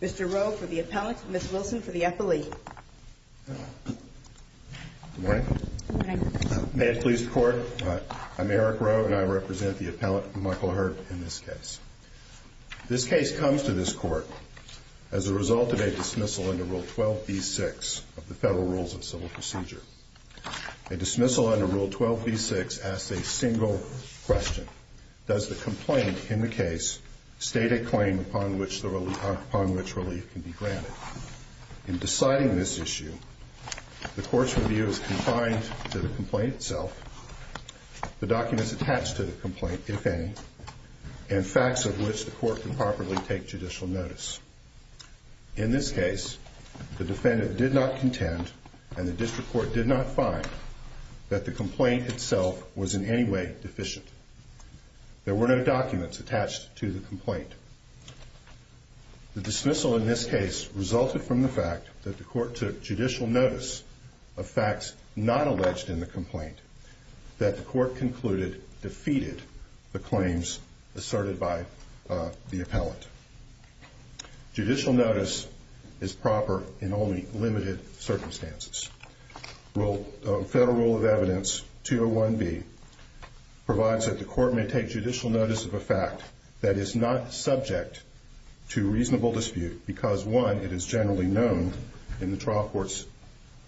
Mr. Rowe for the appellant, Ms. Wilson for the appellee. Good morning. May it please the court, I'm Eric Rowe and I represent the appellant Michael Hurd in this case. This case comes to this court as a result of a dismissal under Rule 12b-6 of the Federal Rules of Civil Procedure. A dismissal under Rule 12b-6 asks a single question. Does the complaint in the case state a claim upon which relief can be granted? In deciding this issue, the court's review is confined to the complaint itself, the documents attached to the complaint, if any, and facts of which the court can properly take judicial notice. In this case, the defendant did not contend, and the district court did not find, that the complaint itself was in any way deficient. There were no documents attached to the complaint. The dismissal in this case resulted from the fact that the court took judicial notice of facts not alleged in the complaint that the court concluded defeated the claims asserted by the appellant. Judicial notice is proper in only limited circumstances. Federal Rule of Evidence 201b provides that the court may take judicial notice of a fact that is not subject to reasonable dispute because, one, it is generally known in the trial court's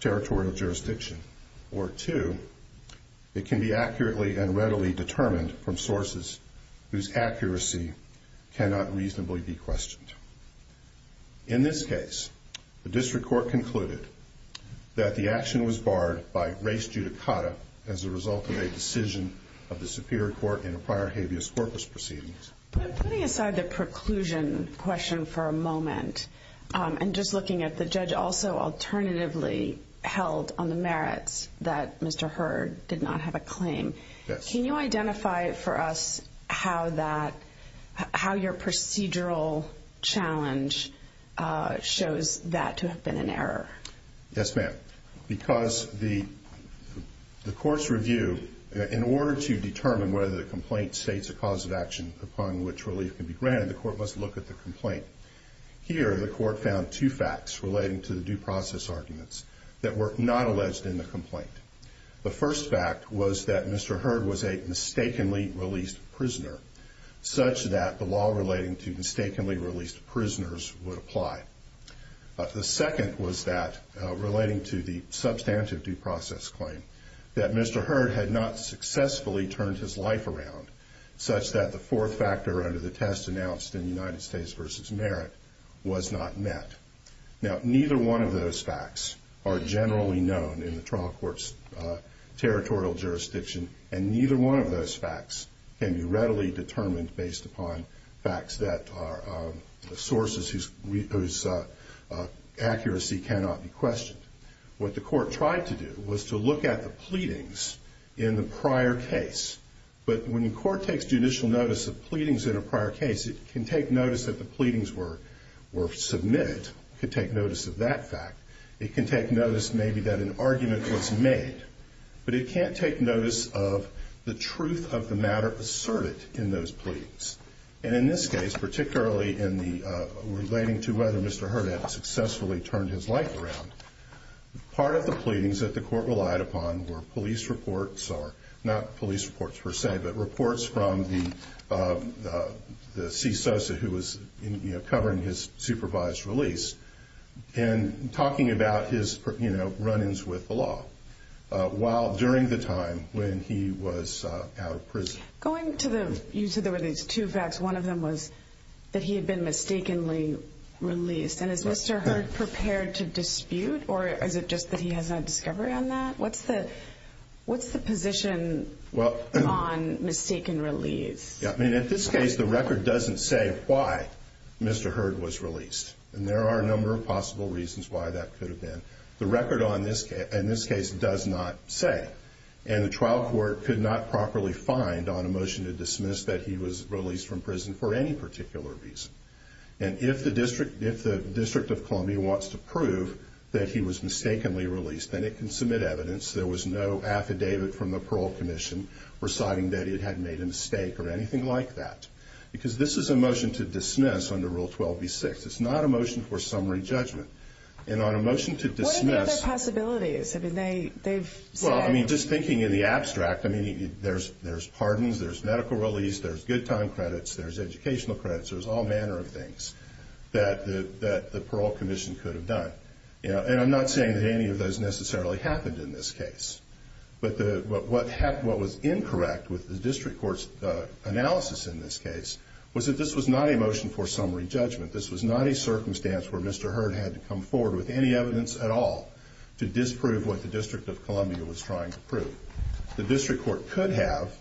territorial jurisdiction, or, two, it can be accurately and readily determined from sources whose accuracy cannot reasonably be questioned. In this case, the district court concluded that the action was barred by res judicata as a result of a decision of the superior court in a prior habeas corpus proceedings. Putting aside the preclusion question for a moment, and just looking at the judge also alternatively held on the merits that Mr. Hurd did not have a claim, can you identify for us how your procedural challenge shows that to have been an error? Yes, ma'am. Because the court's review, in order to determine whether the complaint states a cause of action upon which relief can be granted, the court must look at the complaint. Here, the court found two facts relating to the due process arguments that were not alleged in the complaint. The first fact was that Mr. Hurd was a mistakenly released prisoner, such that the law relating to mistakenly released prisoners would apply. The second was that, relating to the substantive due process claim, that Mr. Hurd had not successfully turned his life around, such that the fourth factor under the test announced in United States v. Merit was not met. Now, neither one of those facts are generally known in the trial court's territorial jurisdiction, and neither one of those facts can be readily determined based upon facts that are sources whose accuracy cannot be questioned. What the court tried to do was to look at the pleadings in the prior case. But when the court takes judicial notice of pleadings in a prior case, it can take notice that the pleadings were submitted. It could take notice of that fact. It can take notice, maybe, that an argument was made. But it can't take notice of the truth of the matter asserted in those pleadings. And in this case, particularly in the relating to whether Mr. Hurd had successfully turned his life around, part of the pleadings that the court relied upon were police reports, or not police reports per se, but reports from the CSOSA, who was covering his supervised release, and talking about his run-ins with the law, while during the time when he was out of prison. Going to the, you said there were these two facts. One of them was that he had been mistakenly released. And is Mr. Hurd prepared to dispute, or is it just that he has no discovery on that? What's the position on mistaken release? I mean, in this case, the record doesn't say why Mr. Hurd was released. And there are a number of possible reasons why that could have been. The record on this case does not say. And the trial court could not properly find on a motion to dismiss that he was released from prison for any particular reason. And if the District of Columbia wants to prove that he was mistakenly released, then it can submit evidence. There was no affidavit from the parole commission reciting that it had made a mistake or anything like that. Because this is a motion to dismiss under Rule 12b-6. It's not a motion for summary judgment. And on a motion to dismiss. What are the other possibilities? Well, I mean, just thinking in the abstract, I mean, there's pardons, there's medical release, there's good time credits, there's educational credits, there's all manner of things that the parole commission could have done. And I'm not saying that any of those necessarily happened in this case. But what was incorrect with the district court's analysis in this case was that this was not a motion for summary judgment. This was not a circumstance where Mr. Hurd had to come forward with any evidence at all to disprove what the District of Columbia was trying to prove. The district court could have,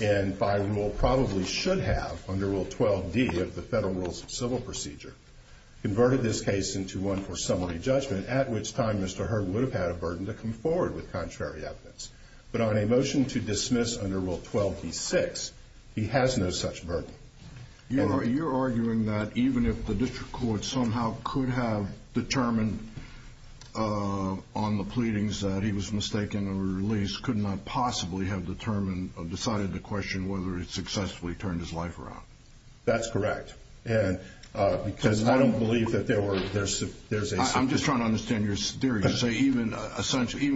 and by rule probably should have, under Rule 12d of the Federal Rules of Civil Procedure, converted this case into one for summary judgment, at which time Mr. Hurd would have had a burden to come forward with contrary evidence. But on a motion to dismiss under Rule 12b-6, he has no such burden. You're arguing that even if the district court somehow could have determined on the pleadings that he was mistaken or released, could not possibly have determined or decided to question whether he successfully turned his life around. That's correct. And because I don't believe that there were, there's a- I'm just trying to understand your theory. You say even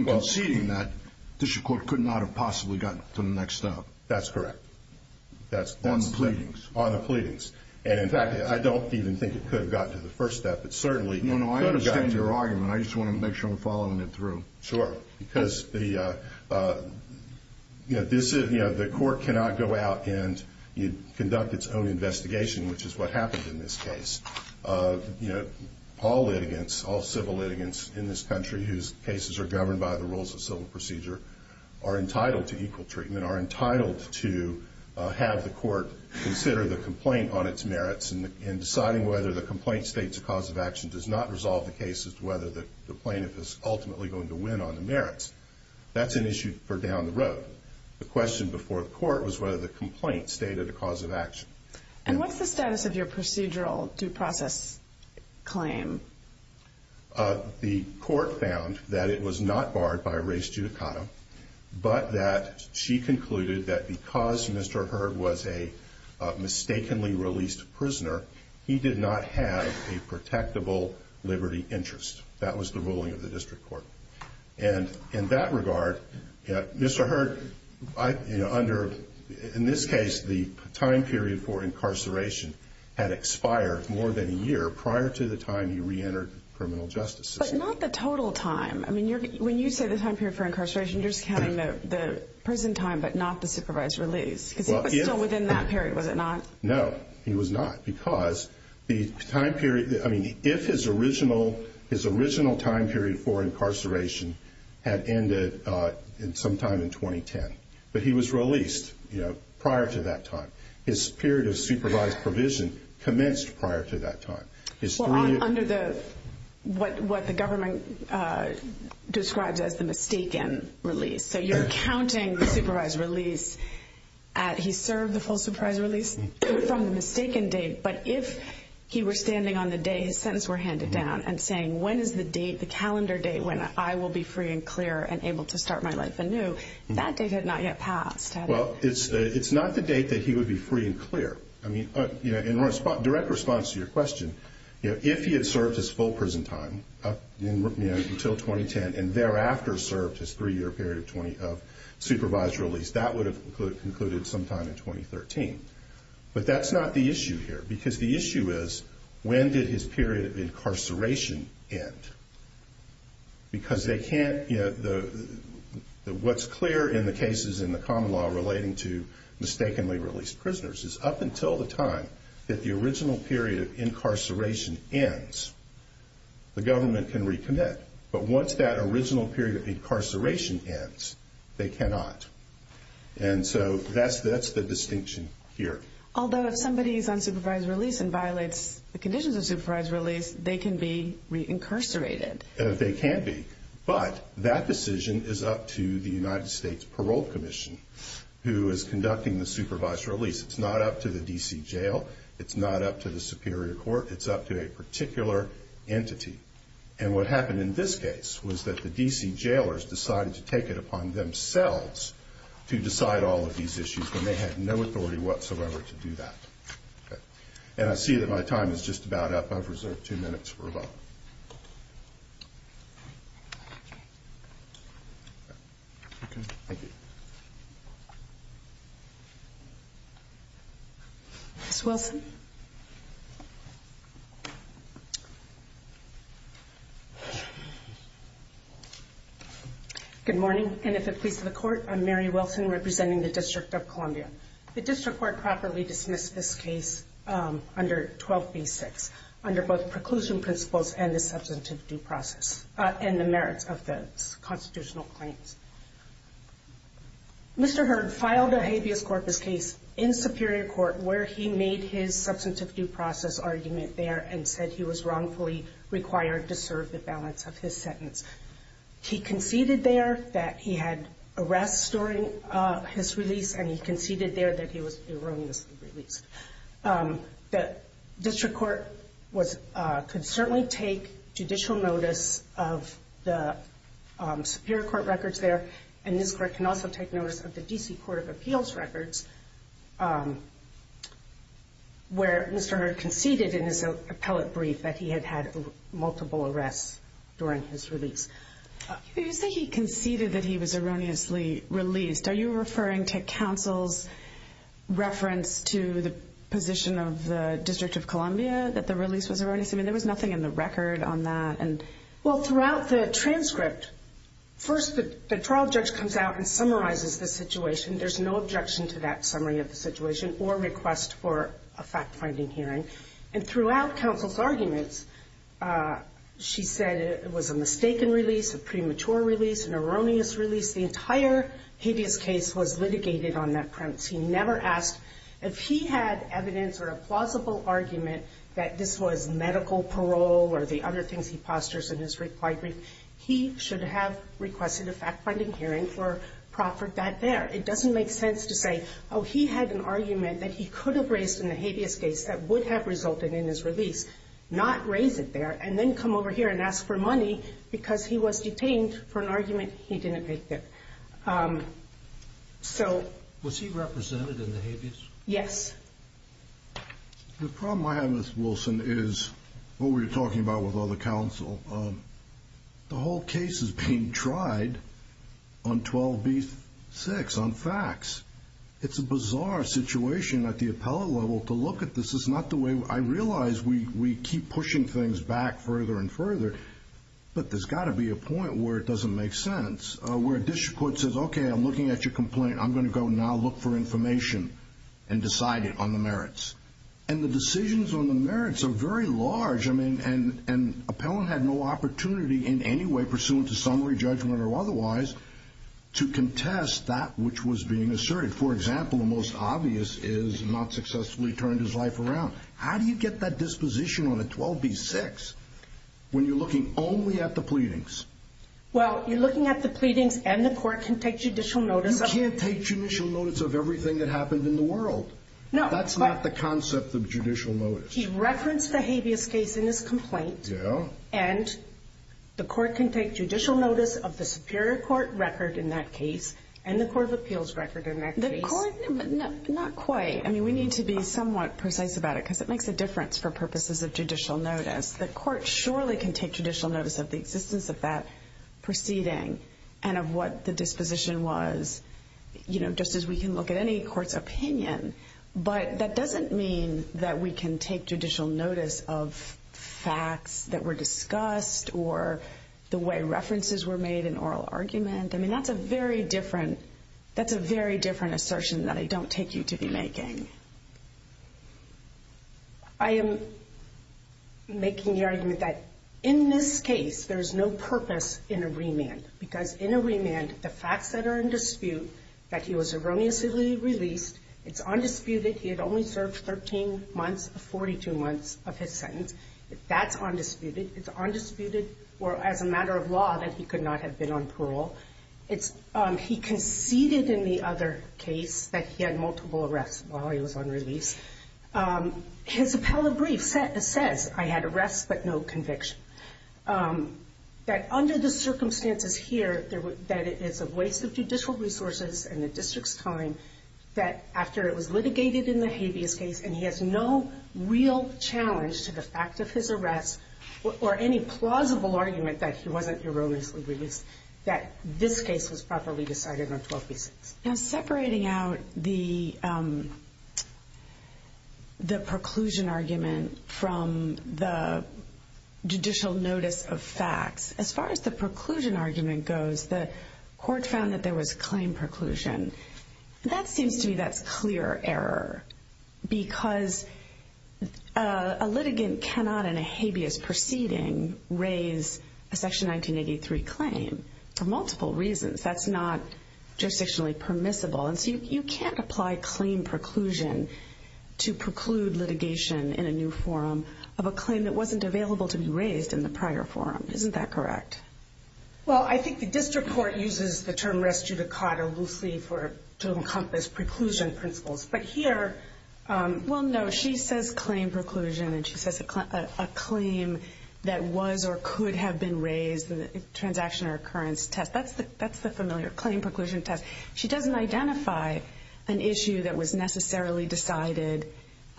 conceding that, the district court could not have possibly gotten to the next step. That's correct. On the pleadings. On the pleadings. And in fact, I don't even think it could have gotten to the first step, but certainly- No, no, I understand your argument. I just want to make sure I'm following it through. Sure. Because the, you know, the court cannot go out and conduct its own investigation, which is what happened in this case. You know, all litigants, all civil litigants in this country whose cases are governed by the Rules of Civil Procedure, are entitled to equal treatment, are entitled to have the court consider the complaint on its merits and deciding whether the complaint states a cause of action does not resolve the case as to whether the plaintiff is ultimately going to win on the merits. That's an issue for down the road. The question before the court was whether the complaint stated a cause of action. And what's the status of your procedural due process claim? The court found that it was not barred by res judicata, but that she concluded that because Mr. Hurd was a mistakenly released prisoner, he did not have a protectable liberty interest. That was the ruling of the district court. And in that regard, Mr. Hurd, in this case, the time period for incarceration had expired more than a year prior to the time he reentered the criminal justice system. But not the total time. I mean, when you say the time period for incarceration, you're just counting the prison time but not the supervised release. Because he was still within that period, was it not? No, he was not. Because the time period, I mean, if his original time period for incarceration had ended sometime in 2010, but he was released prior to that time. His period of supervised provision commenced prior to that time. Well, under what the government describes as the mistaken release. So you're counting the supervised release at he served the full supervised release from the mistaken date. But if he were standing on the day his sentence were handed down and saying, when is the date, the calendar date when I will be free and clear and able to start my life anew, that date had not yet passed. Well, it's not the date that he would be free and clear. I mean, in direct response to your question, if he had served his full prison time until 2010 and thereafter served his three-year period of supervised release, that would have concluded sometime in 2013. But that's not the issue here. Because the issue is, when did his period of incarceration end? Because they can't, you know, what's clear in the cases in the common law relating to mistakenly released prisoners is up until the time that the original period of incarceration ends, the government can recommit. But once that original period of incarceration ends, they cannot. And so that's the distinction here. Although if somebody is on supervised release and violates the conditions of supervised release, they can be reincarcerated. They can be. But that decision is up to the United States Parole Commission, who is conducting the supervised release. It's not up to the D.C. Jail. It's not up to the Superior Court. It's up to a particular entity. And what happened in this case was that the D.C. jailers decided to take it upon themselves to decide all of these issues when they had no authority whatsoever to do that. And I see that my time is just about up. I've reserved two minutes for a vote. Ms. Wilson? Good morning. And if it pleases the Court, I'm Mary Wilson, representing the District of Columbia. The District Court properly dismissed this case under 12b-6, under both preclusion principles and the substantive due process and the merits of the constitutional claims. Mr. Heard filed a habeas corpus case in Superior Court where he made his substantive due process argument there and said he was wrongfully required to serve the balance of his sentence. He conceded there that he had arrests during his release, and he conceded there that he was erroneously released. The District Court could certainly take judicial notice of the Superior Court records there, and this Court can also take notice of the D.C. Court of Appeals records, where Mr. Heard conceded in his appellate brief that he had had multiple arrests during his release. You say he conceded that he was erroneously released. Are you referring to counsel's reference to the position of the District of Columbia that the release was erroneous? I mean, there was nothing in the record on that. Well, throughout the transcript, first the trial judge comes out and summarizes the situation. There's no objection to that summary of the situation or request for a fact-finding hearing. And throughout counsel's arguments, she said it was a mistaken release, a premature release, an erroneous release. The entire habeas case was litigated on that premise. He never asked if he had evidence or a plausible argument that this was medical parole or the other things he postures in his reply brief. He should have requested a fact-finding hearing for Proffert back there. It doesn't make sense to say, oh, he had an argument that he could have raised in the habeas case that would have resulted in his release, not raise it there, and then come over here and ask for money because he was detained for an argument he didn't make there. Was he represented in the habeas? Yes. The problem I have with Wilson is what we were talking about with other counsel. The whole case is being tried on 12b-6 on facts. It's a bizarre situation at the appellate level to look at this. It's not the way I realize we keep pushing things back further and further, but there's got to be a point where it doesn't make sense, where a district court says, okay, I'm looking at your complaint. I'm going to go now look for information and decide it on the merits. And the decisions on the merits are very large. And appellant had no opportunity in any way pursuant to summary judgment or otherwise to contest that which was being asserted. For example, the most obvious is not successfully turned his life around. How do you get that disposition on a 12b-6 when you're looking only at the pleadings? Well, you're looking at the pleadings, and the court can take judicial notice. You can't take judicial notice of everything that happened in the world. That's not the concept of judicial notice. He referenced the habeas case in his complaint, and the court can take judicial notice of the superior court record in that case and the court of appeals record in that case. Not quite. I mean, we need to be somewhat precise about it because it makes a difference for purposes of judicial notice. The court surely can take judicial notice of the existence of that proceeding and of what the disposition was, just as we can look at any court's opinion. But that doesn't mean that we can take judicial notice of facts that were discussed or the way references were made in oral argument. I mean, that's a very different assertion that I don't take you to be making. I am making the argument that in this case there is no purpose in a remand because in a remand the facts that are in dispute, that he was erroneously released, it's undisputed, he had only served 13 months of 42 months of his sentence, that's undisputed. It's undisputed as a matter of law that he could not have been on parole. He conceded in the other case that he had multiple arrests while he was on release. His appellate brief says I had arrests but no conviction. That under the circumstances here, that it is a waste of judicial resources and the district's time that after it was litigated in the habeas case and he has no real challenge to the fact of his arrest or any plausible argument that he wasn't erroneously released, that this case was properly decided on 12B6. Now separating out the preclusion argument from the judicial notice of facts, as far as the preclusion argument goes, the court found that there was claim preclusion. That seems to me that's clear error because a litigant cannot in a habeas proceeding raise a Section 1983 claim for multiple reasons. That's not jurisdictionally permissible. And so you can't apply claim preclusion to preclude litigation in a new forum of a claim that wasn't available to be raised in the prior forum. Isn't that correct? Well, I think the district court uses the term res judicata loosely to encompass preclusion principles. Well, no. She says claim preclusion and she says a claim that was or could have been raised, the transaction or occurrence test. That's the familiar claim preclusion test. She doesn't identify an issue that was necessarily decided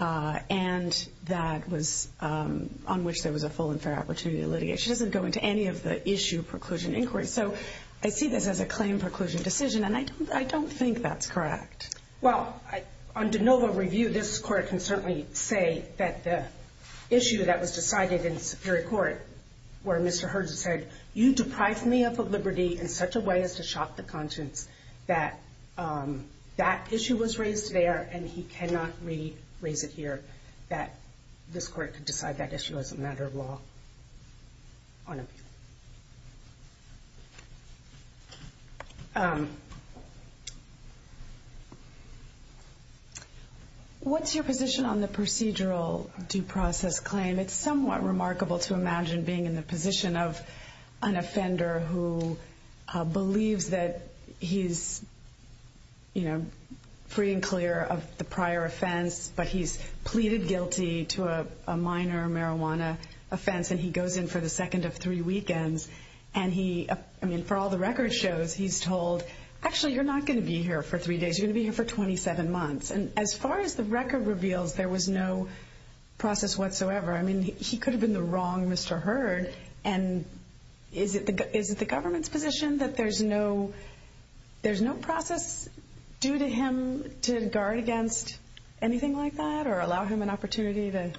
and on which there was a full and fair opportunity to litigate. She doesn't go into any of the issue preclusion inquiry. So I see this as a claim preclusion decision, and I don't think that's correct. Well, on de novo review, this court can certainly say that the issue that was decided in the Superior Court where Mr. Hergis said, you deprive me of the liberty in such a way as to shock the conscience that that issue was raised there and he cannot re-raise it here, that this court could decide that issue as a matter of law on appeal. What's your position on the procedural due process claim? It's somewhat remarkable to imagine being in the position of an offender who believes that he's free and clear of the prior offense, but he's pleaded guilty to a minor marijuana offense, and he goes in for the second of three weekends. And for all the record shows, he's told, actually, you're not going to be here for three days. You're going to be here for 27 months. And as far as the record reveals, there was no process whatsoever. I mean, he could have been the wrong Mr. Herg. And is it the government's position that there's no process due to him to guard against anything like that or allow him an opportunity to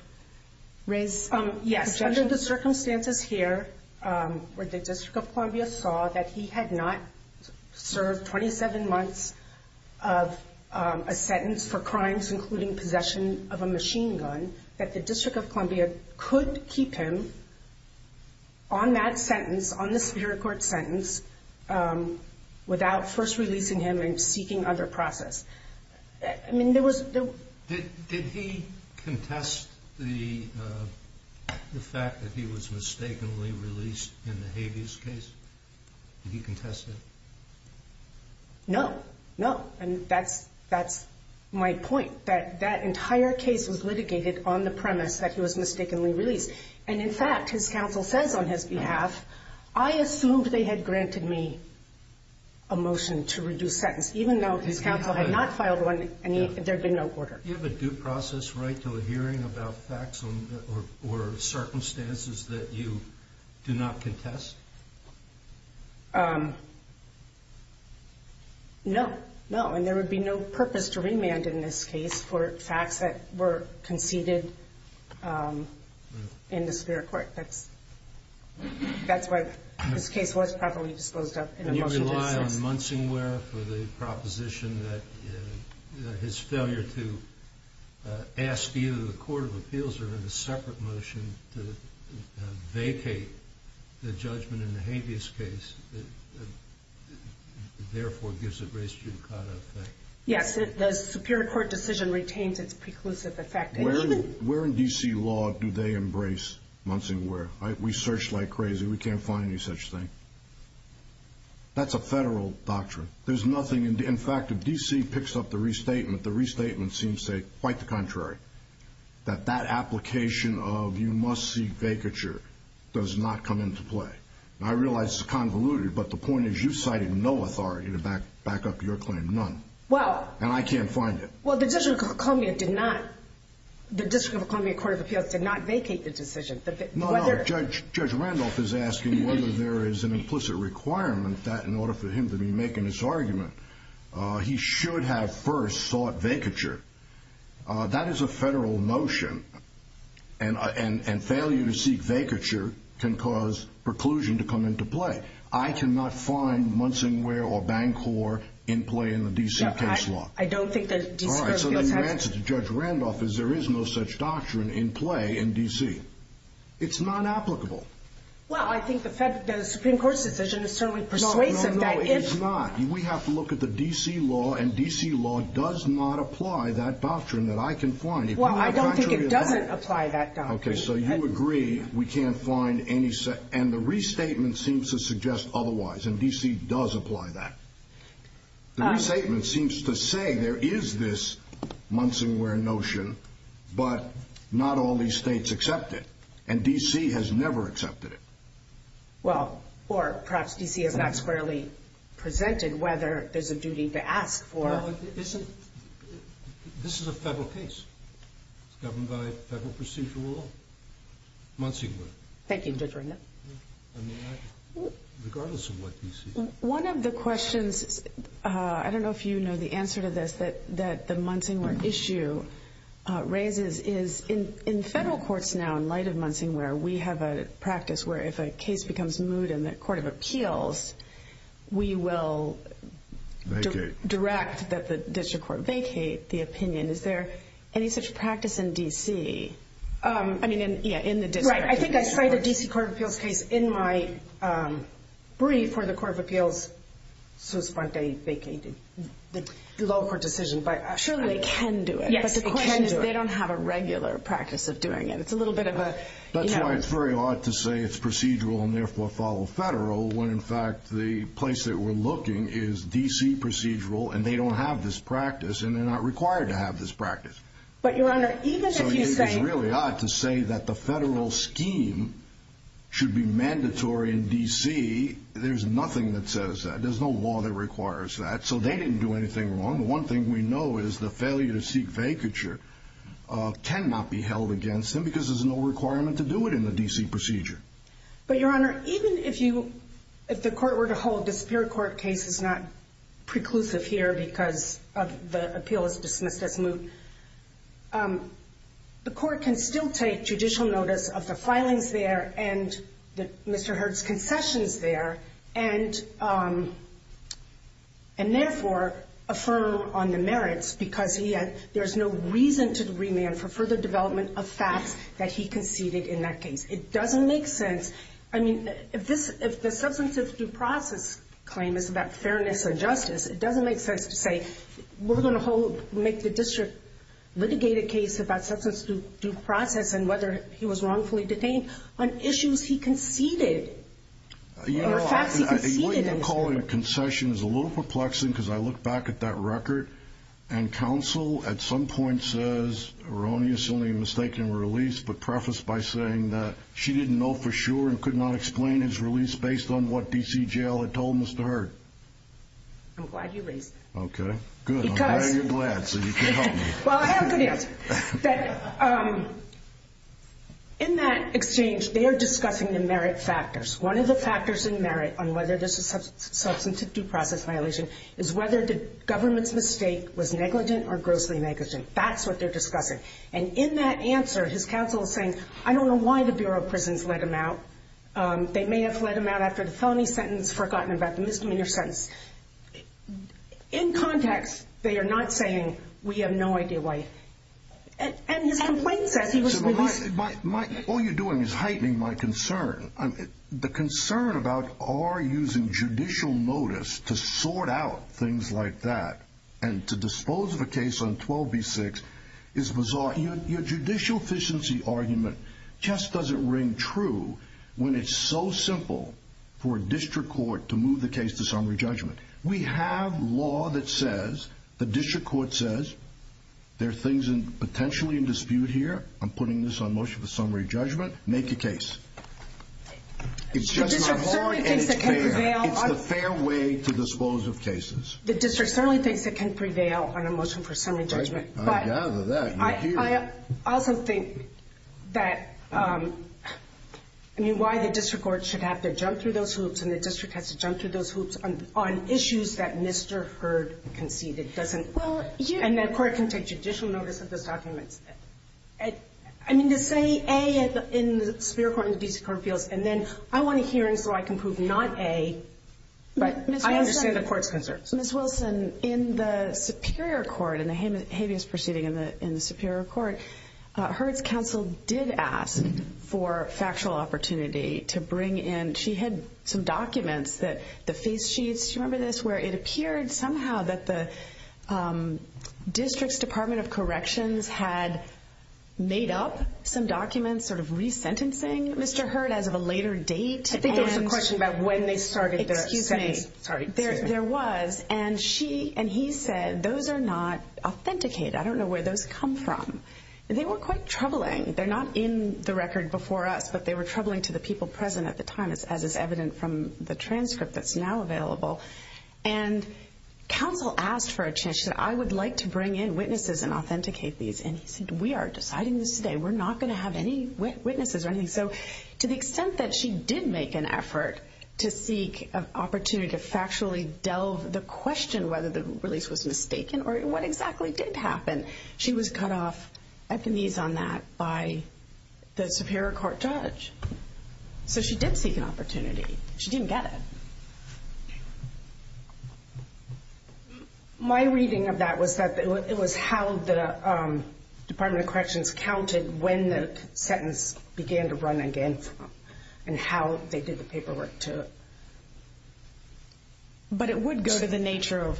raise objections? Yes, under the circumstances here where the District of Columbia saw that he had not served 27 months of a sentence for crimes, including possession of a machine gun, that the District of Columbia could keep him on that sentence, on the Superior Court sentence, without first releasing him and seeking other process. I mean, there was— Did he contest the fact that he was mistakenly released in the habeas case? Did he contest it? No, no. And that's my point, that that entire case was litigated on the premise that he was mistakenly released. And, in fact, his counsel says on his behalf, I assumed they had granted me a motion to reduce sentence, even though his counsel had not filed one, there had been no order. Do you have a due process right to a hearing about facts or circumstances that you do not contest? No, no. And there would be no purpose to remand in this case for facts that were conceded in the Superior Court. That's why this case was properly disposed of in a motion to— Do you rely on Munsingware for the proposition that his failure to ask either the Court of Appeals or have a separate motion to vacate the judgment in the habeas case, therefore gives it res judicata effect? Yes, the Superior Court decision retains its preclusive effect. Where in D.C. law do they embrace Munsingware? We search like crazy. We can't find any such thing. That's a federal doctrine. In fact, if D.C. picks up the restatement, the restatement seems to say quite the contrary, that that application of you must seek vacature does not come into play. I realize this is convoluted, but the point is you cited no authority to back up your claim, none. And I can't find it. Well, the District of Columbia Court of Appeals did not vacate the decision. No, no. Judge Randolph is asking whether there is an implicit requirement that, in order for him to be making this argument, he should have first sought vacature. That is a federal motion, and failure to seek vacature can cause preclusion to come into play. I cannot find Munsingware or Bancorp in play in the D.C. case law. All right, so then your answer to Judge Randolph is there is no such doctrine in play in D.C. It's not applicable. Well, I think the Supreme Court's decision is certainly persuasive that if— No, no, no, it's not. We have to look at the D.C. law, and D.C. law does not apply that doctrine that I can find. Well, I don't think it doesn't apply that doctrine. Okay, so you agree we can't find any such— and the restatement seems to suggest otherwise, and D.C. does apply that. The restatement seems to say there is this Munsingware notion, but not all these states accept it, and D.C. has never accepted it. Well, or perhaps D.C. has not squarely presented whether there's a duty to ask for— Well, isn't—this is a federal case. It's governed by federal procedural law, Munsingware. Thank you, Judge Randolph. Regardless of what D.C. One of the questions—I don't know if you know the answer to this— that the Munsingware issue raises is in federal courts now, in light of Munsingware, we have a practice where if a case becomes moot in the Court of Appeals, we will direct that the district court vacate the opinion. Is there any such practice in D.C.? I mean, yeah, in the district. I think I cite a D.C. Court of Appeals case in my brief for the Court of Appeals, so it's fine if they vacate the law court decision, but— Surely they can do it. Yes, they can do it. But the question is they don't have a regular practice of doing it. It's a little bit of a— That's why it's very odd to say it's procedural and therefore follow federal, when in fact the place that we're looking is D.C. procedural, and they don't have this practice, and they're not required to have this practice. But, Your Honor, even if you say— should be mandatory in D.C., there's nothing that says that. There's no law that requires that. So they didn't do anything wrong. The one thing we know is the failure to seek vacature cannot be held against them because there's no requirement to do it in the D.C. procedure. But, Your Honor, even if the court were to hold the Superior Court case is not preclusive here because the appeal is dismissed as moot, the court can still take judicial notice of the filings there and Mr. Hurd's concessions there and therefore affirm on the merits because there's no reason to remand for further development of facts that he conceded in that case. It doesn't make sense. I mean, if the substantive due process claim is about fairness and justice, it doesn't make sense to say we're going to make the district litigate a case about substance due process and whether he was wrongfully detained on issues he conceded or facts he conceded in. What you're calling a concession is a little perplexing because I look back at that record and counsel at some point says erroneously mistaken release, but prefaced by saying that she didn't know for sure and could not explain his release based on what D.C. Jail had told Mr. Hurd. I'm glad you released him. Okay, good. I'm glad you're glad so you can help me. Well, I have a good answer. In that exchange, they are discussing the merit factors. One of the factors in merit on whether this is a substantive due process violation is whether the government's mistake was negligent or grossly negligent. That's what they're discussing. And in that answer, his counsel is saying, I don't know why the Bureau of Prisons let him out. They may have let him out after the felony sentence, forgotten about the misdemeanor sentence. In context, they are not saying we have no idea why. And his complaint says he was released. All you're doing is heightening my concern. The concern about our using judicial notice to sort out things like that and to dispose of a case on 12b-6 is bizarre. Your judicial efficiency argument just doesn't ring true when it's so simple for a district court to move the case to summary judgment. We have law that says, the district court says, there are things potentially in dispute here. I'm putting this on motion for summary judgment. Make a case. It's just not hard and it's fair. The district certainly thinks it can prevail. It's the fair way to dispose of cases. The district certainly thinks it can prevail on a motion for summary judgment. I also think that why the district court should have to jump through those hoops and the district has to jump through those hoops on issues that Mr. Hurd conceded and the court can take judicial notice of those documents. I mean, to say A in the Superior Court and the D.C. Court of Appeals and then I want a hearing so I can prove not A, but I understand the court's concerns. Ms. Wilson, in the Superior Court, in the habeas proceeding in the Superior Court, Hurd's counsel did ask for factual opportunity to bring in. She had some documents that the face sheets, do you remember this, where it appeared somehow that the district's Department of Corrections had made up some documents sort of resentencing Mr. Hurd as of a later date. I think there was a question about when they started the sentence. There was, and he said those are not authenticated. I don't know where those come from. They were quite troubling. They're not in the record before us, but they were troubling to the people present at the time as is evident from the transcript that's now available. And counsel asked for a chance that I would like to bring in witnesses and authenticate these and he said we are deciding this today. We're not going to have any witnesses or anything. So to the extent that she did make an effort to seek an opportunity to factually delve the question whether the release was mistaken or what exactly did happen, she was cut off at the knees on that by the Superior Court judge. So she did seek an opportunity. She didn't get it. My reading of that was that it was how the Department of Corrections counted when the sentence began to run again and how they did the paperwork to it. But it would go to the nature of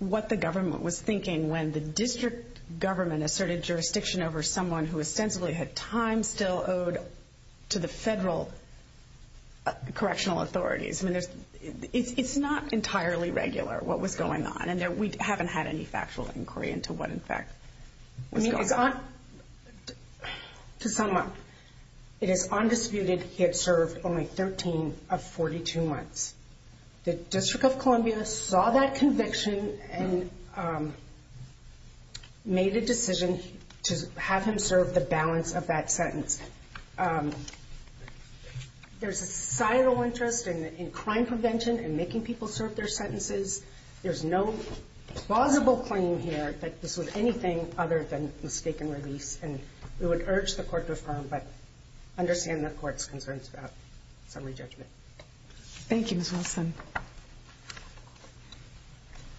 what the government was thinking when the district government asserted jurisdiction over someone who ostensibly had time still owed to the federal correctional authorities. I mean, it's not entirely regular what was going on and we haven't had any factual inquiry into what, in fact, was going on. To sum up, it is undisputed he had served only 13 of 42 months. The District of Columbia saw that conviction and made a decision to have him serve the balance of that sentence. There's a societal interest in crime prevention and making people serve their sentences. There's no plausible claim here that this was anything other than mistaken release, and we would urge the Court to affirm but understand the Court's concerns about summary judgment. Thank you, Ms. Wilson.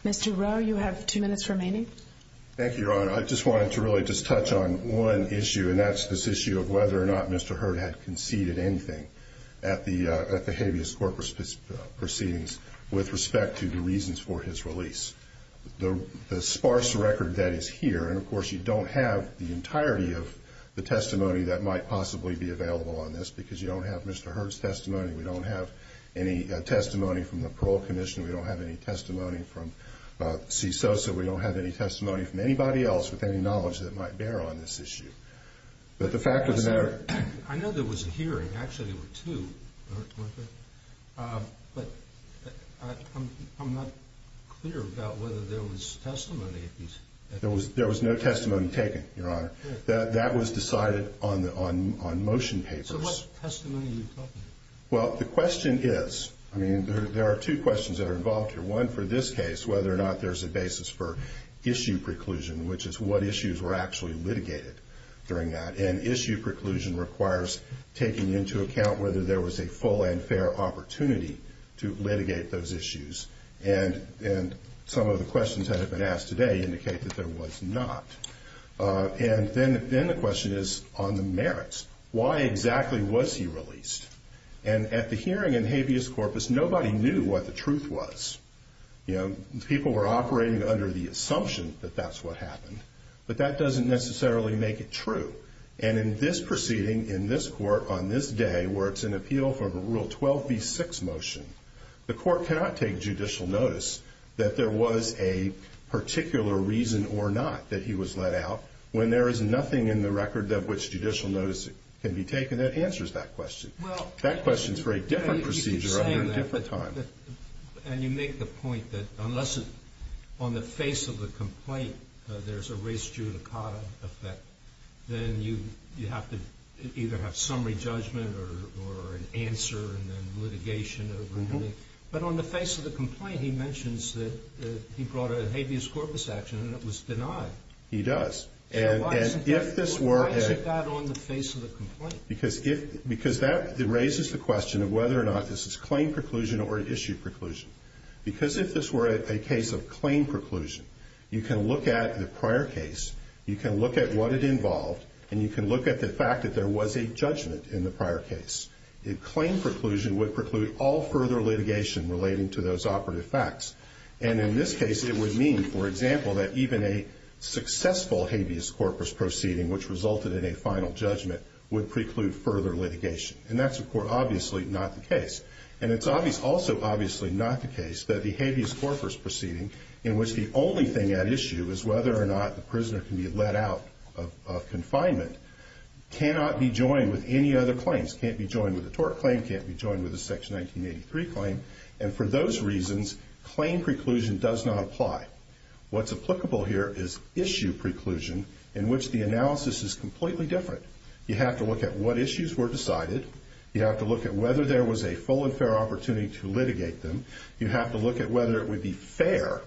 Mr. Rowe, you have two minutes remaining. Thank you, Your Honor. I just wanted to really just touch on one issue, and that's this issue of whether or not Mr. Hurte had conceded anything at the habeas court proceedings with respect to the reasons for his release. The sparse record that is here, and of course you don't have the entirety of the testimony that might possibly be available on this because you don't have Mr. Hurte's testimony, we don't have any testimony from the Parole Commission, we don't have any testimony from CISO, so we don't have any testimony from anybody else with any knowledge that might bear on this issue. But the fact of the matter... I know there was a hearing, actually there were two, but I'm not clear about whether there was testimony. There was no testimony taken, Your Honor. That was decided on motion papers. So what testimony are you talking about? Well, the question is, I mean, there are two questions that are involved here. One for this case, whether or not there's a basis for issue preclusion, which is what issues were actually litigated during that. And issue preclusion requires taking into account whether there was a full and fair opportunity to litigate those issues. And some of the questions that have been asked today indicate that there was not. And then the question is on the merits. Why exactly was he released? And at the hearing in habeas corpus, nobody knew what the truth was. You know, people were operating under the assumption that that's what happened. But that doesn't necessarily make it true. And in this proceeding, in this court, on this day, where it's an appeal for the Rule 12b-6 motion, the court cannot take judicial notice that there was a particular reason or not that he was let out when there is nothing in the record of which judicial notice can be taken that answers that question. That question is for a different procedure under a different time. And you make the point that unless on the face of the complaint there's a res judicata effect, then you have to either have summary judgment or an answer and then litigation. But on the face of the complaint, he mentions that he brought a habeas corpus action and it was denied. He does. Because that raises the question of whether or not this is claim preclusion or issue preclusion. Because if this were a case of claim preclusion, you can look at the prior case, you can look at what it involved, and you can look at the fact that there was a judgment in the prior case. Claim preclusion would preclude all further litigation relating to those operative facts. And in this case, it would mean, for example, that even a successful habeas corpus proceeding, which resulted in a final judgment, would preclude further litigation. And that's, of course, obviously not the case. And it's also obviously not the case that the habeas corpus proceeding, in which the only thing at issue is whether or not the prisoner can be let out of confinement, cannot be joined with any other claims, can't be joined with a tort claim, can't be joined with a Section 1983 claim. And for those reasons, claim preclusion does not apply. What's applicable here is issue preclusion, in which the analysis is completely different. You have to look at what issues were decided. You have to look at whether there was a full and fair opportunity to litigate them. You have to look at whether it would be fair,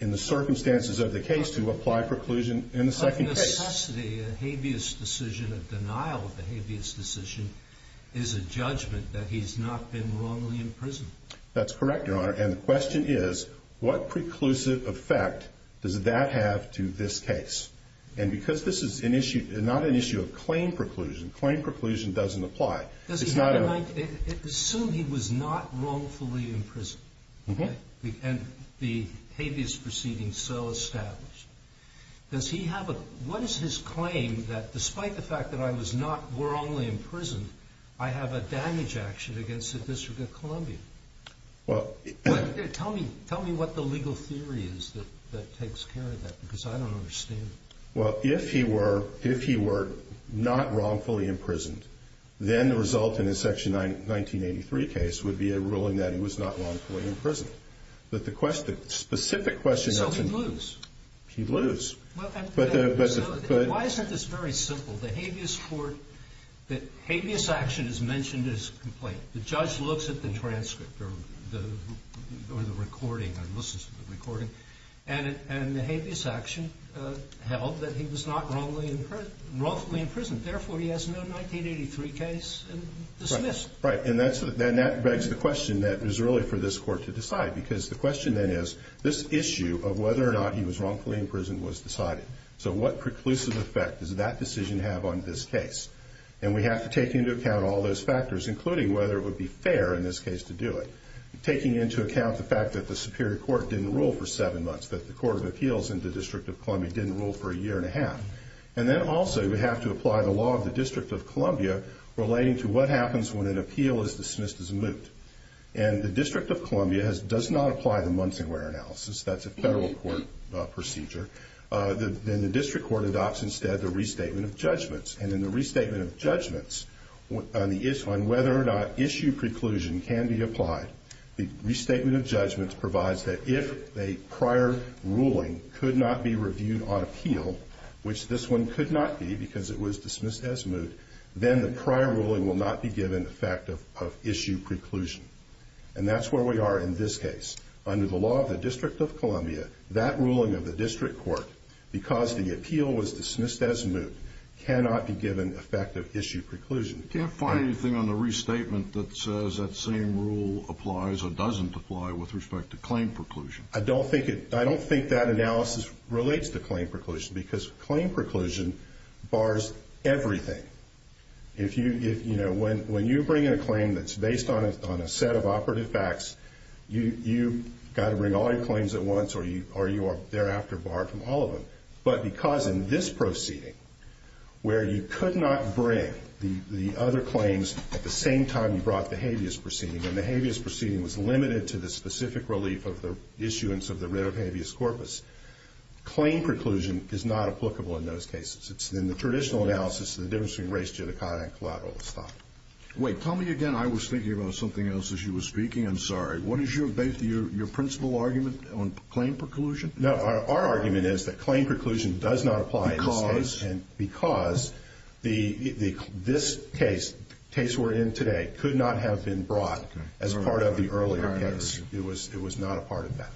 in the circumstances of the case, to apply preclusion in the second case. But in necessity, a habeas decision, a denial of a habeas decision, is a judgment that he's not been wrongly imprisoned. That's correct, Your Honor. And the question is, what preclusive effect does that have to this case? And because this is not an issue of claim preclusion, claim preclusion doesn't apply. Assume he was not wrongfully imprisoned, and the habeas proceeding so established. What is his claim that, despite the fact that I was not wrongly imprisoned, I have a damage action against the District of Columbia? Well, tell me what the legal theory is that takes care of that, because I don't understand it. Well, if he were not wrongfully imprisoned, then the result in his Section 1983 case would be a ruling that he was not wrongfully imprisoned. But the question, the specific question. So he'd lose. He'd lose. Why isn't this very simple? The habeas action is mentioned in his complaint. The judge looks at the transcript or the recording or listens to the recording, and the habeas action held that he was not wrongfully imprisoned. Therefore, he has no 1983 case dismissed. Right. And that begs the question that it was really for this Court to decide, because the question then is, this issue of whether or not he was wrongfully imprisoned was decided. So what preclusive effect does that decision have on this case? And we have to take into account all those factors, including whether it would be fair in this case to do it. Taking into account the fact that the Superior Court didn't rule for seven months, that the Court of Appeals in the District of Columbia didn't rule for a year and a half. And then also we have to apply the law of the District of Columbia relating to what happens when an appeal is dismissed as a moot. And the District of Columbia does not apply the Munsingware analysis. That's a federal court procedure. And in the restatement of judgments on whether or not issue preclusion can be applied, the restatement of judgments provides that if a prior ruling could not be reviewed on appeal, which this one could not be because it was dismissed as moot, then the prior ruling will not be given the fact of issue preclusion. And that's where we are in this case. Under the law of the District of Columbia, that ruling of the District Court, because the appeal was dismissed as moot, cannot be given the fact of issue preclusion. You can't find anything on the restatement that says that same rule applies or doesn't apply with respect to claim preclusion. I don't think that analysis relates to claim preclusion because claim preclusion bars everything. When you bring in a claim that's based on a set of operative facts, you've got to bring all your claims at once or you are thereafter barred from all of them. But because in this proceeding, where you could not bring the other claims at the same time you brought the habeas proceeding, and the habeas proceeding was limited to the specific relief of the issuance of the writ of habeas corpus, claim preclusion is not applicable in those cases. It's in the traditional analysis, the difference between res judicata and collateralis thought. Wait, tell me again, I was thinking about something else as you were speaking, I'm sorry. What is your principle argument on claim preclusion? No, our argument is that claim preclusion does not apply in this case. Because? Because this case, the case we're in today, could not have been brought as part of the earlier case. It was not a part of that.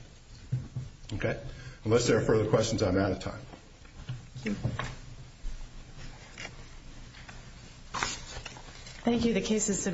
Okay? Unless there are further questions, I'm out of time. Thank you. Thank you.